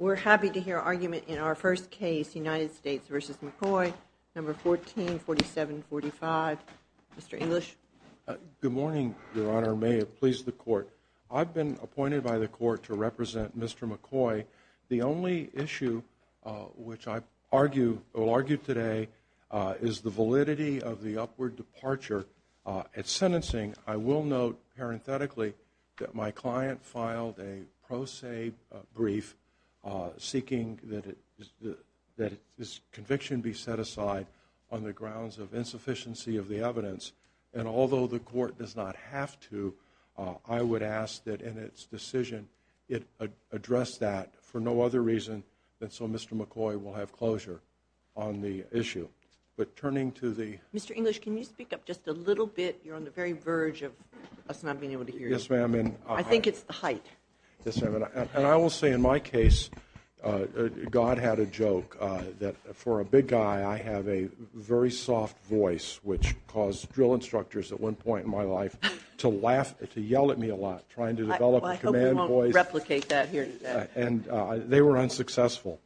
We're happy to hear argument in our first case, United States v. McCoy, No. 14-4745. Mr. English. Good morning, Your Honor. May it please the Court. I've been appointed by the Court to represent Mr. McCoy. The only issue which I will argue today is the validity of the upward departure at sentencing. I will note parenthetically that my client filed a pro se brief seeking that his conviction be set aside on the grounds of insufficiency of the evidence. And although the Court does not have to, I would ask that in its decision it address that for no other reason than so Mr. McCoy will have closure on the issue. Mr. English, can you speak up just a little bit? You're on the very verge of us not being able to hear you. I think it's the height. Yes, ma'am. And I will say in my case, God had a joke that for a big guy I have a very soft voice which caused drill instructors at one point in my life to laugh, to yell at me a lot trying to develop a command voice. I hope we won't replicate that here. And they were unsuccessful.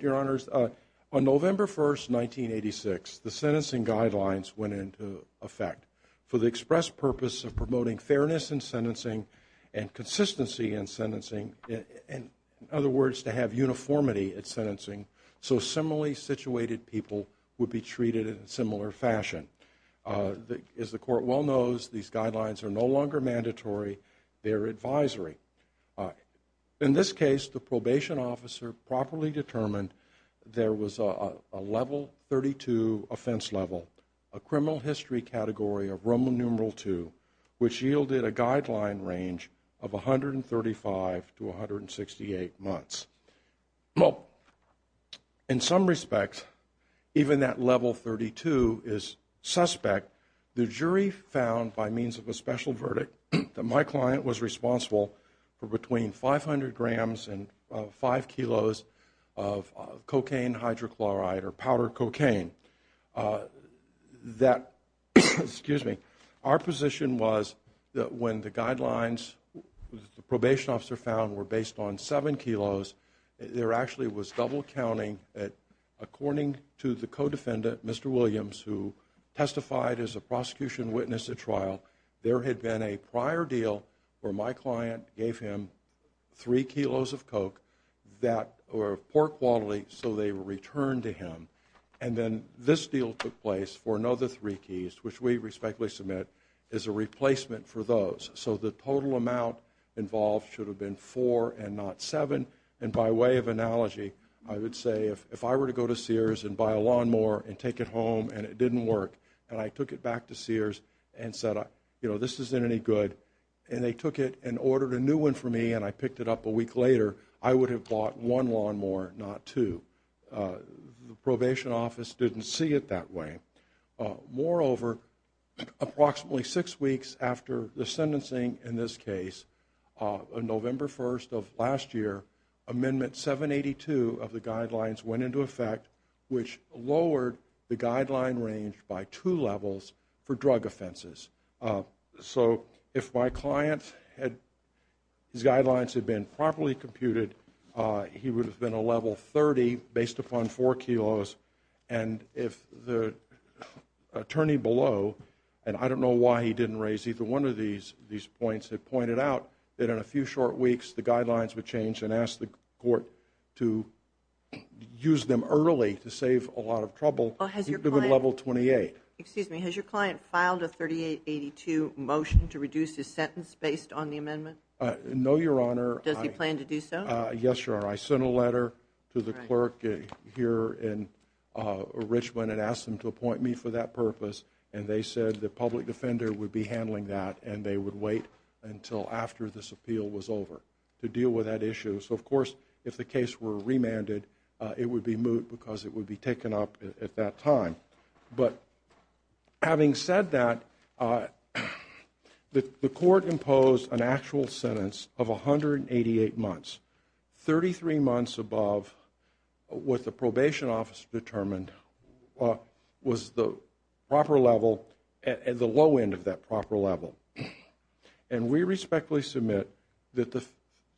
Your Honors, on November 1st, 1986, the sentencing guidelines went into effect for the express purpose of promoting fairness in sentencing and consistency in sentencing. In other words, to have uniformity at sentencing so similarly situated people would be treated in a similar fashion. As the Court well knows, these guidelines are no longer mandatory. They're advisory. In this case, the probation officer properly determined there was a level 32 offense level, a criminal history category of Roman numeral two, which yielded a guideline range of 135 to 168 months. Well, in some respects, even that level 32 is suspect. The jury found by means of a special verdict that my client was responsible for between 500 grams and five kilos of cocaine hydrochloride or powdered cocaine. That, excuse me, our position was that when the guidelines the probation officer found were based on seven kilos, there actually was double counting at, according to the co-defendant, Mr. Williams, who testified as a prosecution witness at trial, there had been a prior deal where my client gave him three kilos of coke that, or pork bodily, so they returned to him. And then this deal took place for another three kilos, which we respectfully submit is a replacement for those. So the total amount involved should have been four and not seven. And by way of analogy, I would say if I were to go to Sears and buy a lawnmower and take it home and it didn't work, and I took it back to Sears and said, you know, this isn't any good, and they took it and ordered a new one for me and I picked it up a week later, I would have bought one lawnmower, not two. The probation office didn't see it that way. Moreover, approximately six weeks after the sentencing in this case, on November 1st of last year, Amendment 782 of the Guideline ranged by two levels for drug offenses. So if my client had, his Guidelines had been properly computed, he would have been a level 30 based upon four kilos. And if the attorney below, and I don't know why he didn't raise either one of these points, had pointed out that in a few short weeks the Guidelines would change and ask the court to use them early to save a lot of trouble. Has your client filed a 3882 motion to reduce his sentence based on the amendment? No, Your Honor. Does he plan to do so? Yes, Your Honor. I sent a letter to the clerk here in Richmond and asked them to appoint me for that purpose and they said the public defender would be handling that and they would wait until after this appeal was over to deal with that issue. So of course, if the case were remanded, it would be at that time. But having said that, the court imposed an actual sentence of 188 months, 33 months above what the probation office determined was the proper level, the low end of that proper level. And we respectfully submit that the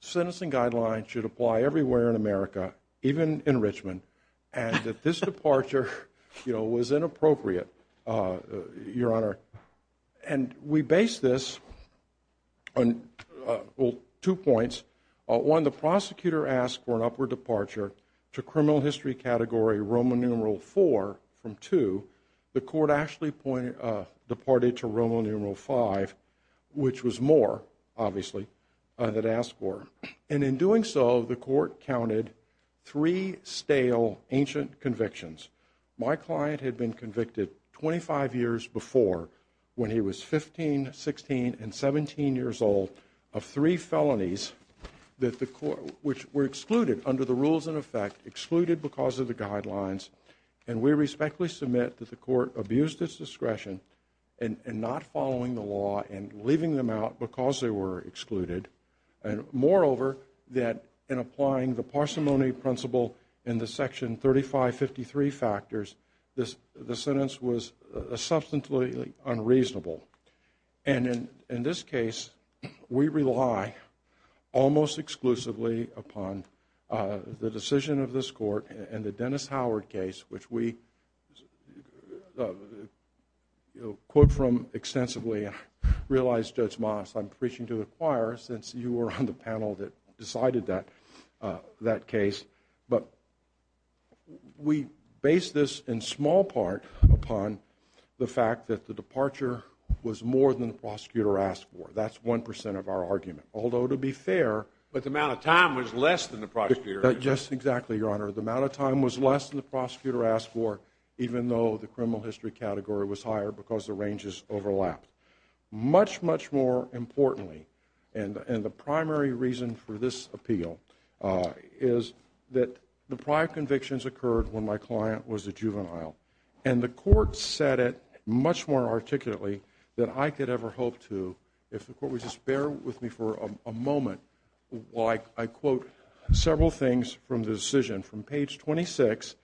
sentencing Guidelines should apply everywhere in America, even in Richmond, and that this departure, you know, was inappropriate, Your Honor. And we base this on two points. One, the prosecutor asked for an upward departure to criminal history category Roman numeral four from two. The court actually departed to Roman numeral five, which was more, obviously, that asked for. And in doing so, the court counted three stale ancient convictions. My client had been convicted 25 years before when he was 15, 16 and 17 years old of three felonies that the court, which were excluded under the rules in effect, excluded because of the Guidelines. And we respectfully submit that the court abused its following the law and leaving them out because they were excluded. And moreover, that in applying the parsimony principle in the Section 3553 factors, the sentence was substantially unreasonable. And in this case, we rely almost exclusively upon the decision of this court and the Dennis Howard case, which we, you know, quote from extensively. I realize, Judge Moss, I'm preaching to the choir since you were on the panel that decided that that case. But we base this in small part upon the fact that the departure was more than the prosecutor asked for. That's 1% of our argument. Although to be fair, but the amount of time was less than the prosecutor. Yes, exactly, Your Honor. The amount of time was less than the prosecutor asked for, even though the criminal history category was higher because the ranges overlapped. Much, much more importantly, and the primary reason for this appeal is that the prior convictions occurred when my client was a juvenile. And the court said it much more articulately than I could ever hope to. If the court would just bear with me for a moment while I quote several things from the decision. From page 26,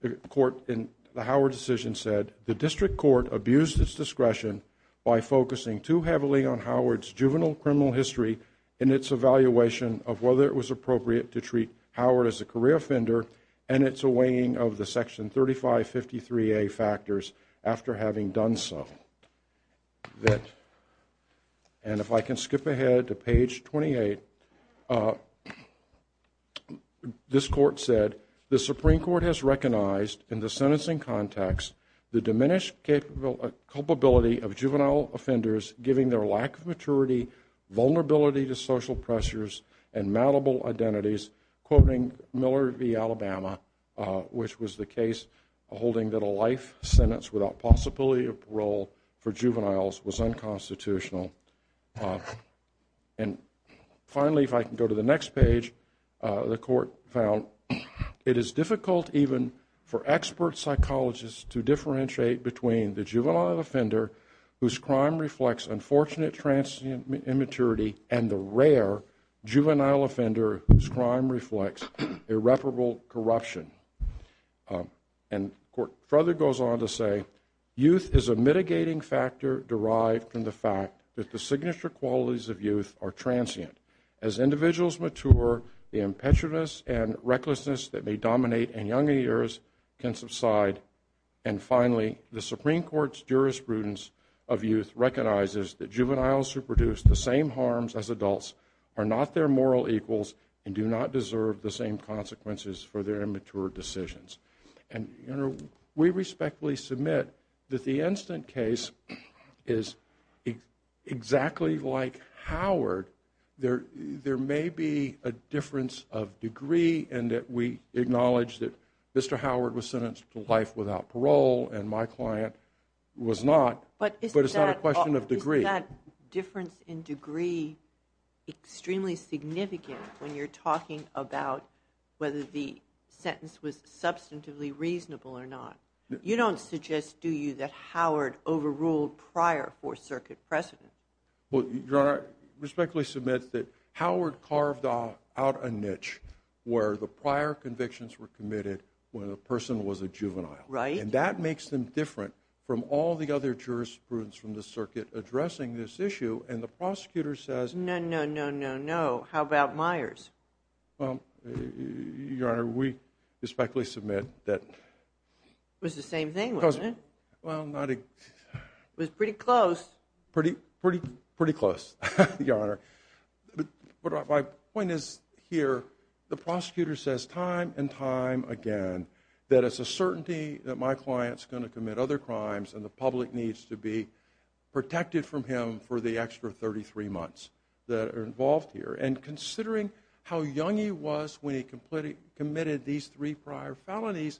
the court in the Howard decision said, the district court abused its discretion by focusing too heavily on Howard's juvenile criminal history in its evaluation of whether it was appropriate to treat Howard as a career offender and its weighing of the Section 3553A factors after having done so. And if I can skip ahead to page 28, this court said, the Supreme Court has recognized in the sentencing context the diminished capability of juvenile offenders, giving their lack of maturity, vulnerability to social pressures, and malleable identities, quoting Miller v. Alabama, which was the case holding that a life sentence without possibility of parole for juveniles was unconstitutional. And finally, if I can go to the next page, the court found it is difficult even for expert psychologists to differentiate between the juvenile offender whose crime reflects unfortunate transient immaturity and the rare juvenile offender whose crime reflects irreparable corruption. And the court further goes on to say, youth is a mitigating factor derived from the fact that the signature qualities of youth are transient. As individuals mature, the impetuousness and recklessness that may dominate in younger years can subside. And finally, the Supreme Court's jurisprudence of youth recognizes that juveniles who produce the same harms as adults are not their And, you know, we respectfully submit that the instant case is exactly like Howard. There may be a difference of degree and that we acknowledge that Mr. Howard was sentenced to life without parole and my client was not, but it's not a question of degree. Is that difference in degree extremely significant when you're talking about whether the sentence was substantively reasonable or not? You don't suggest, do you, that Howard overruled prior Fourth Circuit precedents? Well, Your Honor, I respectfully submit that Howard carved out a niche where the prior convictions were committed when a person was a juvenile. Right. And that makes them different from all the other jurisprudence from the circuit addressing this issue and the prosecutor says... No, no, no, no, no. How about Myers? Well, Your Honor, we respectfully submit that... It was the same thing, wasn't it? Well, not exactly... It was pretty close. Pretty, pretty, pretty close, Your Honor. But my point is here, the prosecutor says time and time again, that it's a certainty that my client's going to commit other crimes and the public needs to be protected from him for the extra 33 months that are involved here. And considering how young he was when he committed these three prior felonies,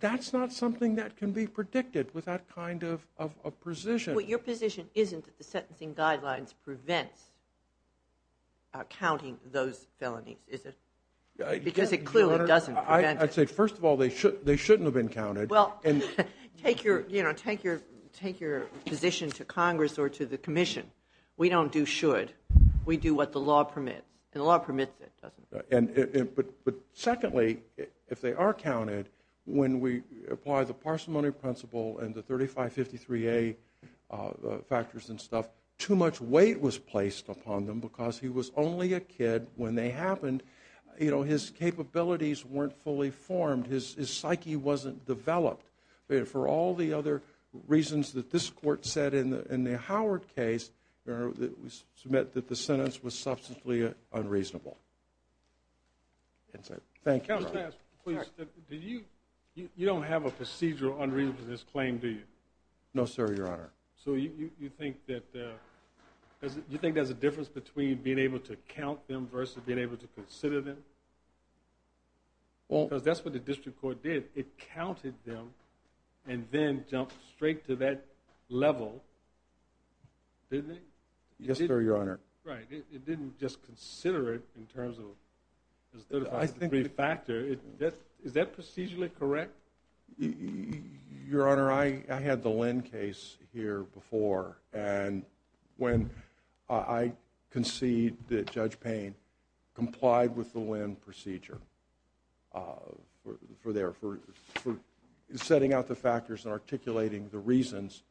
that's not something that can be predicted with that kind of a precision. But your position isn't that the sentencing guidelines prevents counting those felonies, is it? Because it clearly doesn't prevent it. I'd say, first of all, they shouldn't have been counted. Well, take your position to Congress or to the commission. We don't do should. We do what the law permits. And the law permits it, doesn't it? But secondly, if they are counted, when we apply the parsimony principle and the 3553A factors and stuff, too much weight was placed upon them because he was only a kid when they happened. His capabilities weren't fully formed. His psyche wasn't developed. For all the other reasons that this court said in the Howard case, we submit that the sentence was substantially unreasonable. That's it. Thank you, Your Honor. Counsel, ask, please. You don't have a procedural unreasonableness claim, do you? No, sir, Your Honor. So you think that there's a difference between being able to count them versus being able to consider them? Because that's what the district court did. It counted them and then jumped straight to that level, didn't it? Yes, sir, Your Honor. Right. It didn't just consider it in terms of the 3553 factor. Is that procedurally correct? Your Honor, I had the Lynn case here before, and when I concede that Judge Payne complied with the Lynn procedure for setting out the factors and articulating the reasons,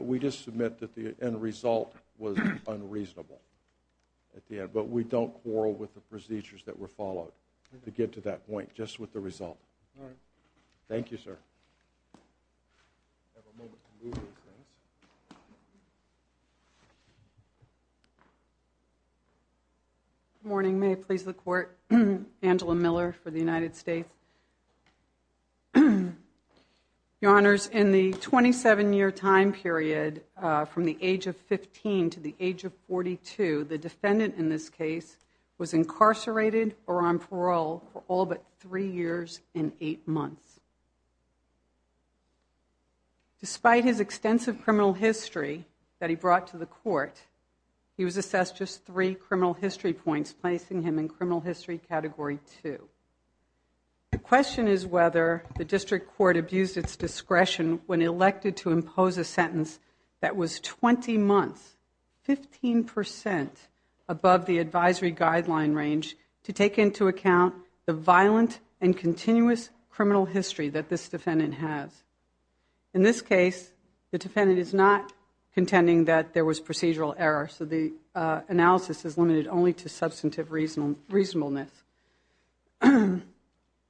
we just submit that the end result was unreasonable at the end. But we don't quarrel with the procedures that were followed to get to that point, just with the result. Thank you, sir. Good morning. May it please the Court, Angela Miller for the United States. Your Honors, in the 27-year time period from the age of 15 to the age of 42, the defendant in this case, despite his extensive criminal history that he brought to the court, he was assessed just three criminal history points, placing him in criminal history category two. The question is whether the district court abused its discretion when elected to impose a sentence that was 20 months, 15 percent, above the advisory guideline range to take into account the violent and continuous criminal history that this defendant has. In this case, the defendant is not contending that there was procedural error, so the analysis is limited only to substantive reasonableness. I'd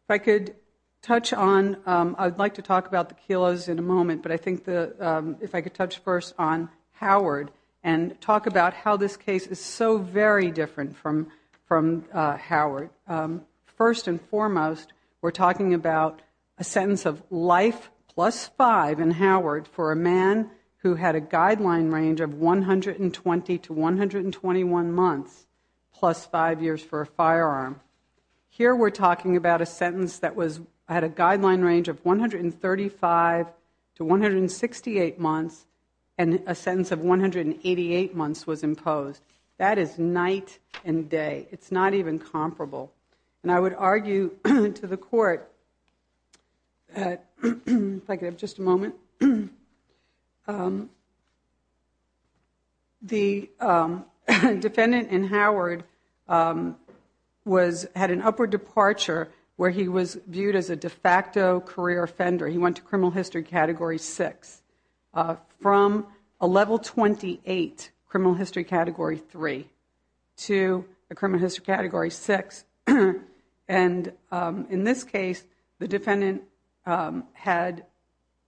like to talk about the Kelo's in a moment, but I think if I could touch first on Howard and talk about how this case is so very different from Howard. First and foremost, we're talking about a sentence of life plus five in Howard for a man who had a guideline range of 120 to 121 months, plus five years for a firearm. Here we're talking about a sentence that had a guideline range of 135 to 168 months, and a sentence of 188 months was imposed. That is night and day. It's not even comparable. I would argue to the court, if I could have just a moment, the defendant in Howard had an upward departure where he was viewed as a de facto career offender. He went to criminal history category six from a level 28 criminal history category three to a criminal history category six. In this case, the defendant had,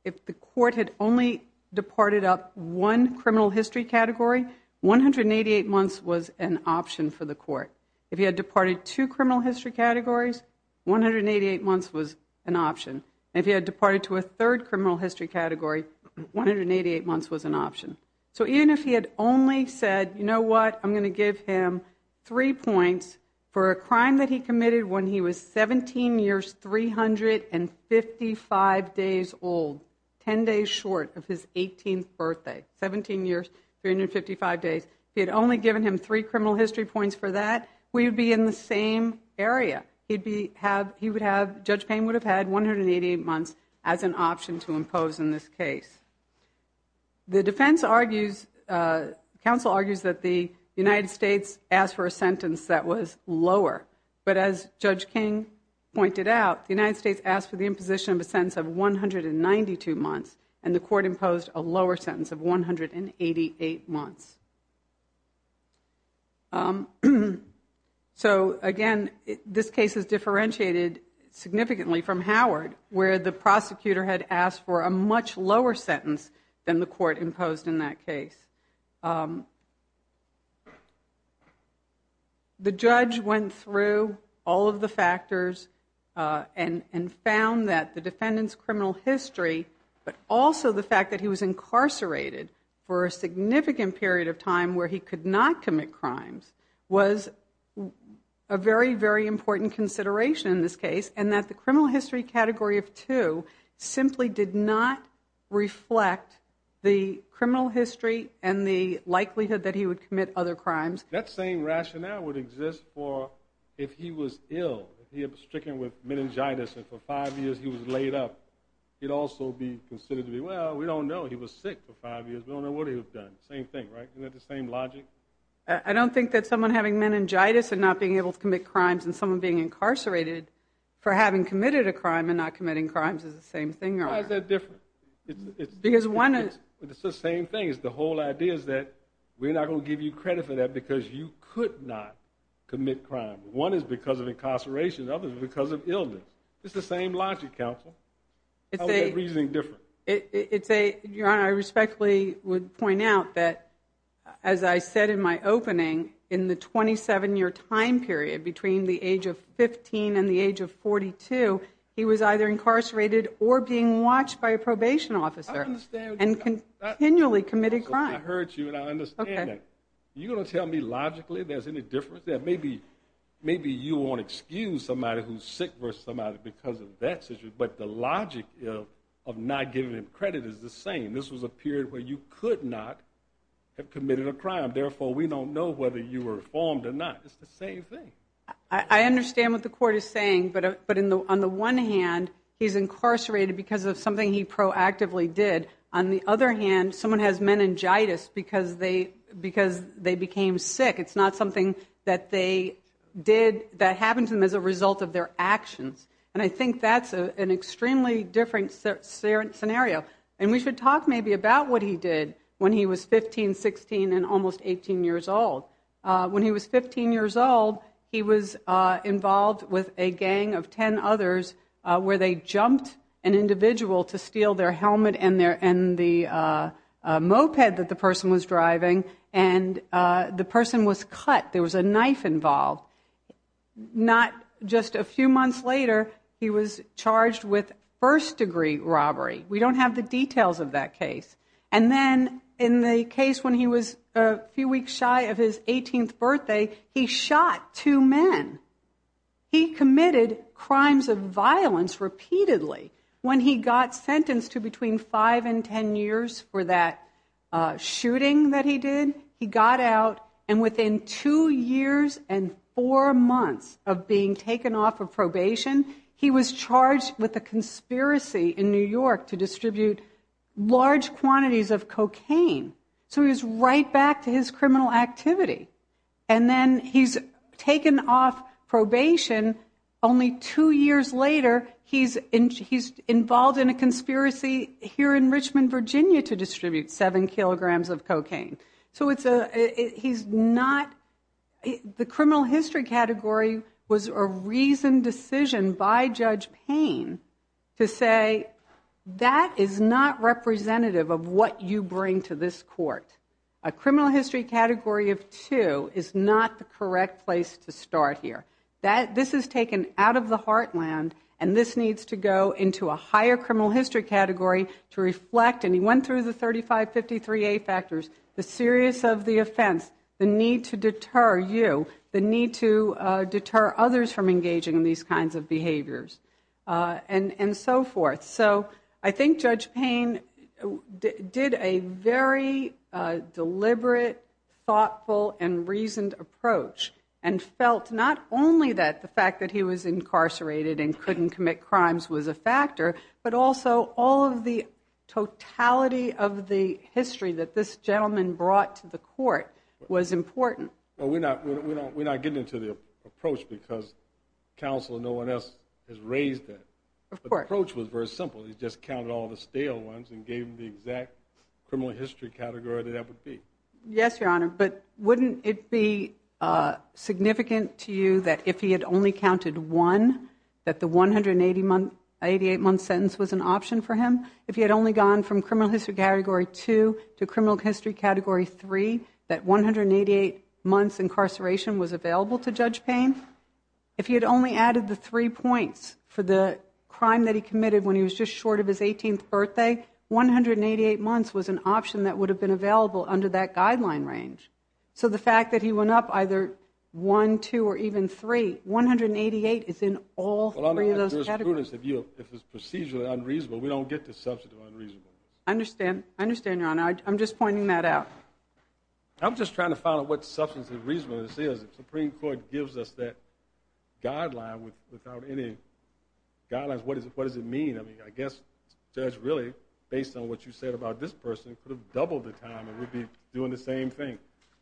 if the court had only departed up one criminal history category, 188 months was an option for the court. If he had departed two criminal history categories, 188 months was an option. If he had departed to a third criminal history category, 188 months was an option. Even if he had only said, you know what, I'm going to give him three points for a crime that he committed when he was 17 years, 355 days old, 10 days short of his 18th birthday, 17 years, 355 days, he had only given him three criminal history points for that, we would be in the same area. He would have, Judge Payne would have had 188 months as an option to impose in this case. The defense argues, counsel argues that the United States asked for a sentence that was lower, but as Judge King pointed out, the United States asked for the imposition of a sentence of 192 months and the court imposed a lower sentence of 188 months. So again, this case is differentiated significantly from Howard, where the prosecutor had asked for a much lower sentence than the court imposed in that case. The judge went through all of the factors and found that the defendant's criminal history, but also the fact that he was incarcerated for a significant period of time where he could not commit crimes, was a very, very important consideration in this case and that the criminal history and the likelihood that he would commit other crimes. That same rationale would exist for if he was ill, if he was stricken with meningitis and for five years he was laid up, he'd also be considered to be, well, we don't know, he was sick for five years, we don't know what he would have done. Same thing, right? Isn't that the same logic? I don't think that someone having meningitis and not being able to commit crimes and someone being incarcerated for having committed a crime and not committing crimes is the same thing. Why is that different? Because one is... It's the same thing. The whole idea is that we're not going to give you credit for that because you could not commit crimes. One is because of incarceration, the other is because of illness. It's the same logic, counsel. How is that reasoning different? Your Honor, I respectfully would point out that, as I said in my opening, in the 27-year time period between the age of 15 and the age of 42, he was either incarcerated or being watched by a probation officer and continually committed crime. I heard you and I understand that. You're going to tell me logically there's any difference? Maybe you want to excuse somebody who's sick versus somebody because of that situation, but the logic of not giving him credit is the same. This was a period where you could not have committed a crime. Therefore, we don't know whether you were informed or not. It's the same thing. I understand what the Court is saying, but on the one hand, he's incarcerated because of something he proactively did. On the other hand, someone has meningitis because they became sick. It's not something that happened to them as a result of their actions. I think that's an extremely different scenario. We should talk maybe about what he did when he was 15, 16, and almost 18 years old. When he was 15 years old, he was involved with a gang of 10 others where they would steal their helmet and the moped that the person was driving. The person was cut. There was a knife involved. Not just a few months later, he was charged with first-degree robbery. We don't have the details of that case. Then, in the case when he was a few weeks shy of his 18th birthday, he shot two men. He committed crimes of violence repeatedly. When he got sentenced to between 5 and 10 years for that shooting that he did, he got out. Within two years and four months of being taken off of probation, he was charged with a conspiracy in New York to distribute large quantities of cocaine. He was right back to his criminal activity. Then, he's taken off probation. Only two years later, he's involved in a conspiracy here in Richmond, Virginia, to distribute 7 kilograms of cocaine. The criminal history category was a reasoned decision by Judge Payne to say, that is not representative of what you bring to this court. A criminal history category of two is not the correct place to start here. This is taken out of the heartland. This needs to go into a higher criminal history category to reflect, and he went through the 3553A factors, the seriousness of the offense, the need to deter you, the need to deter others from engaging in these kinds of behaviors, and so forth. I think Judge Payne did a very deliberate, thoughtful, and reasoned approach, and felt not only that the fact that he was incarcerated and couldn't commit crimes was a factor, but also all of the totality of the history that this gentleman brought to the court was important. Well, we're not getting into the approach because counsel and no one else has raised that. Of course. The approach was very simple. He just counted all the stale ones and gave them the exact criminal history category that that would be. Yes, Your Honor, but wouldn't it be significant to you that if he had only counted one, that the 188-month sentence was an option for him? If he had only gone from criminal history category two to criminal history category three, that 188 months incarceration was available to Judge Payne? If he had only added the three points for the crime that he committed when he was just short of his 18th birthday, 188 months was an option that would have been available under that guideline range. So the fact that he went up either one, two, or even three, 188 is in all three of those categories. Your Honor, if it's procedurally unreasonable, we don't get to substantive unreasonable. I understand. I understand, Your Honor. I'm just pointing that out. I'm just trying to find out what substantive reasonableness is. If the Supreme Court gives us that guideline without any guidelines, what does it mean? I mean, I guess Judge, really, based on what you said about this person, could have doubled the time and would be doing the same thing.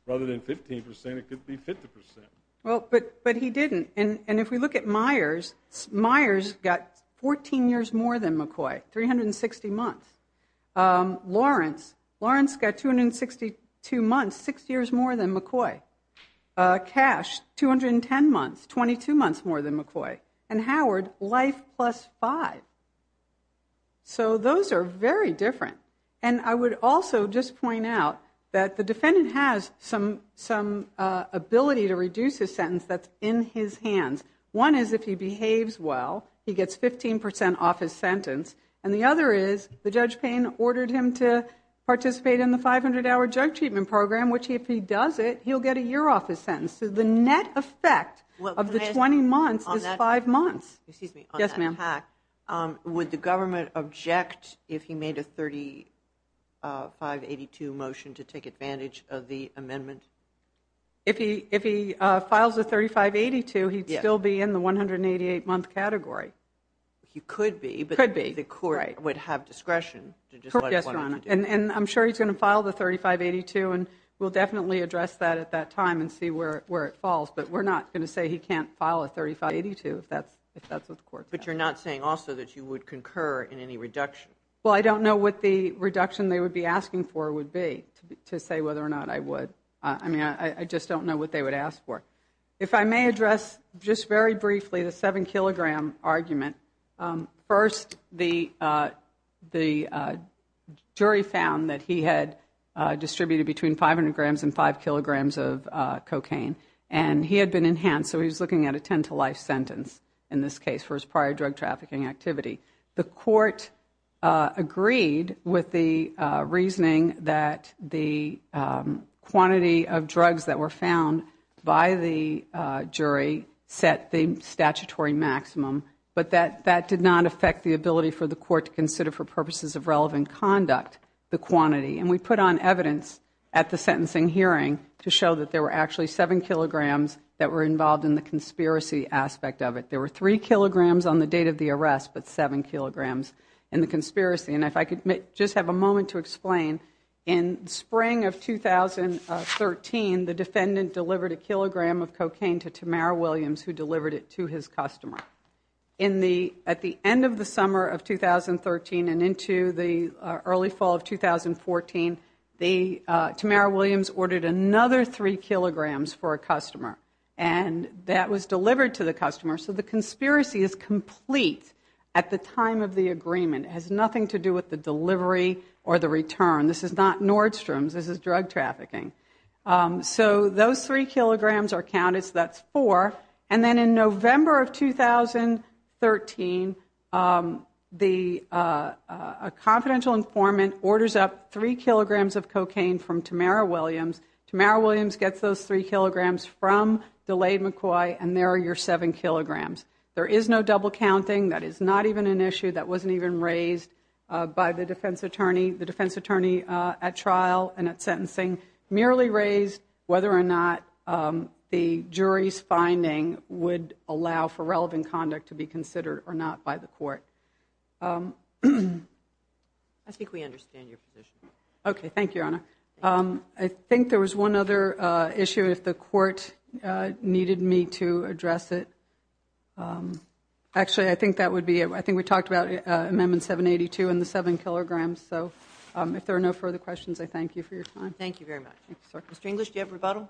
Rather than 15%, it could be 50%. Well, but he didn't. And if we look at Myers, Myers got 14 years more than McCoy, 360 months. Lawrence, Lawrence got 262 months, six years more than McCoy. Cash, 210 months, 22 months more than McCoy. And Howard, life plus five. So those are very different. And I would also just point out that the defendant has some ability to reduce his sentence that's in his hands. One is if he behaves well, he gets 15% off his sentence. And the other is, the Judge Payne ordered him to participate in the 500-hour drug treatment program, which if he does it, he'll get a year off his sentence. So the net effect of the 20 months is five months. Excuse me. Yes, ma'am. Would the government object if he made a 3582 motion to take advantage of the amendment? If he files a 3582, he'd still be in the 188-month category. He could be, but the court would have discretion. And I'm sure he's going to file the 3582, and we'll definitely address that at that time and see where it falls. But we're not going to say he can't file a 3582 if that's what the court says. But you're not saying also that you would concur in any reduction? Well, I don't know what the reduction they would be asking for would be to say whether or not I would. I mean, I just don't know what they would ask for. If I may address just very briefly the 7-kilogram argument. First, the jury found that he had distributed between 500 grams and 5 kilograms of cocaine. And he had been enhanced, so he was looking at a 10-to-life sentence in this case for his prior drug trafficking activity. The court agreed with the reasoning that the quantity of drugs that were found by the jury set the statutory maximum, but that did not affect the ability for the court to consider for purposes of relevant conduct the quantity. And we put on evidence at the sentencing hearing to show that there were actually 7 kilograms that were involved in the conspiracy aspect of it. There were 3 kilograms on the date of the arrest, but 7 kilograms in the conspiracy. And if I could just have a moment to explain in spring of 2013, the defendant delivered a kilogram of cocaine to Tamara Williams who delivered it to his customer. At the end of the summer of 2013 and into the early fall of 2014, the Tamara Williams ordered another 3 kilograms for a customer. And that was delivered to the customer. So the conspiracy is complete at the time of the agreement. It has nothing to do with delivery or the return. This is not Nordstrom's. This is drug trafficking. So those 3 kilograms are counted, so that's 4. And then in November of 2013, a confidential informant orders up 3 kilograms of cocaine from Tamara Williams. Tamara Williams gets those 3 kilograms from Delayed McCoy, and there are your 7 kilograms. There is no double counting. That is not even an issue that wasn't even raised by the defense attorney. The defense attorney at trial and at sentencing merely raised whether or not the jury's finding would allow for relevant conduct to be considered or not by the court. I think we understand your position. Okay, thank you, Your Honor. I think there was one other issue if the court needed me to address it. Um, actually, I think that would be, I think we talked about Amendment 782 and the 7 kilograms. So if there are no further questions, I thank you for your time. Thank you very much. Mr. English, do you have rebuttal?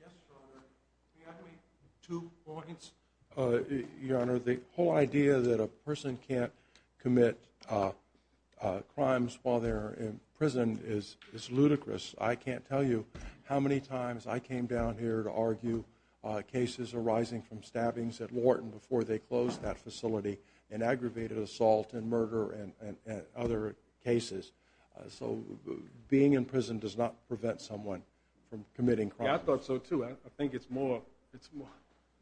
Yes, Your Honor. Can I make two points? Your Honor, the whole idea that a person can't commit crimes while they're in prison is ludicrous. I can't tell you how many times I before they closed that facility and aggravated assault and murder and other cases. So being in prison does not prevent someone from committing crimes. I thought so too. I think it's more, it's more,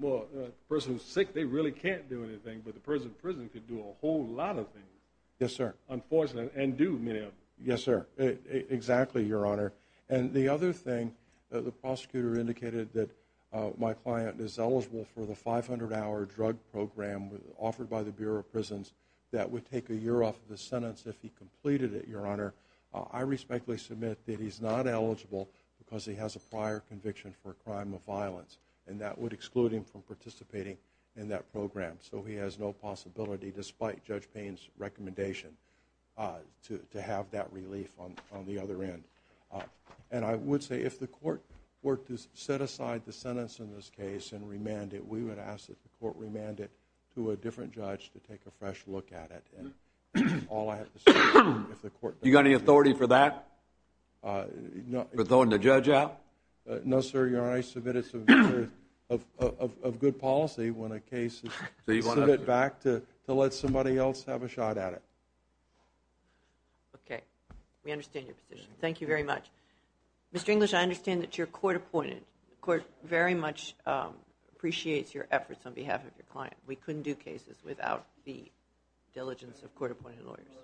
well, a person who's sick, they really can't do anything. But the person in prison could do a whole lot of things. Yes, sir. Unfortunately, and do many of them. Yes, sir. Exactly, Your Honor. And the other thing, the prosecutor indicated that my client is eligible for the 500-hour drug program offered by the Bureau of Prisons that would take a year off the sentence if he completed it, Your Honor. I respectfully submit that he's not eligible because he has a prior conviction for a crime of violence. And that would exclude him from participating in that program. So he has no possibility despite Judge Payne's recommendation to have that relief on the other end. And I would say if the court were to set aside the sentence in this case and remand it, we would ask that the court remand it to a different judge to take a fresh look at it. You got any authority for that? For throwing the judge out? No, sir. Your Honor, I submit it's of good policy when a case is Okay. We understand your position. Thank you very much. Mr. English, I understand that your court appointed court very much appreciates your efforts on behalf of your client. We couldn't do cases without the diligence of court-appointed lawyers.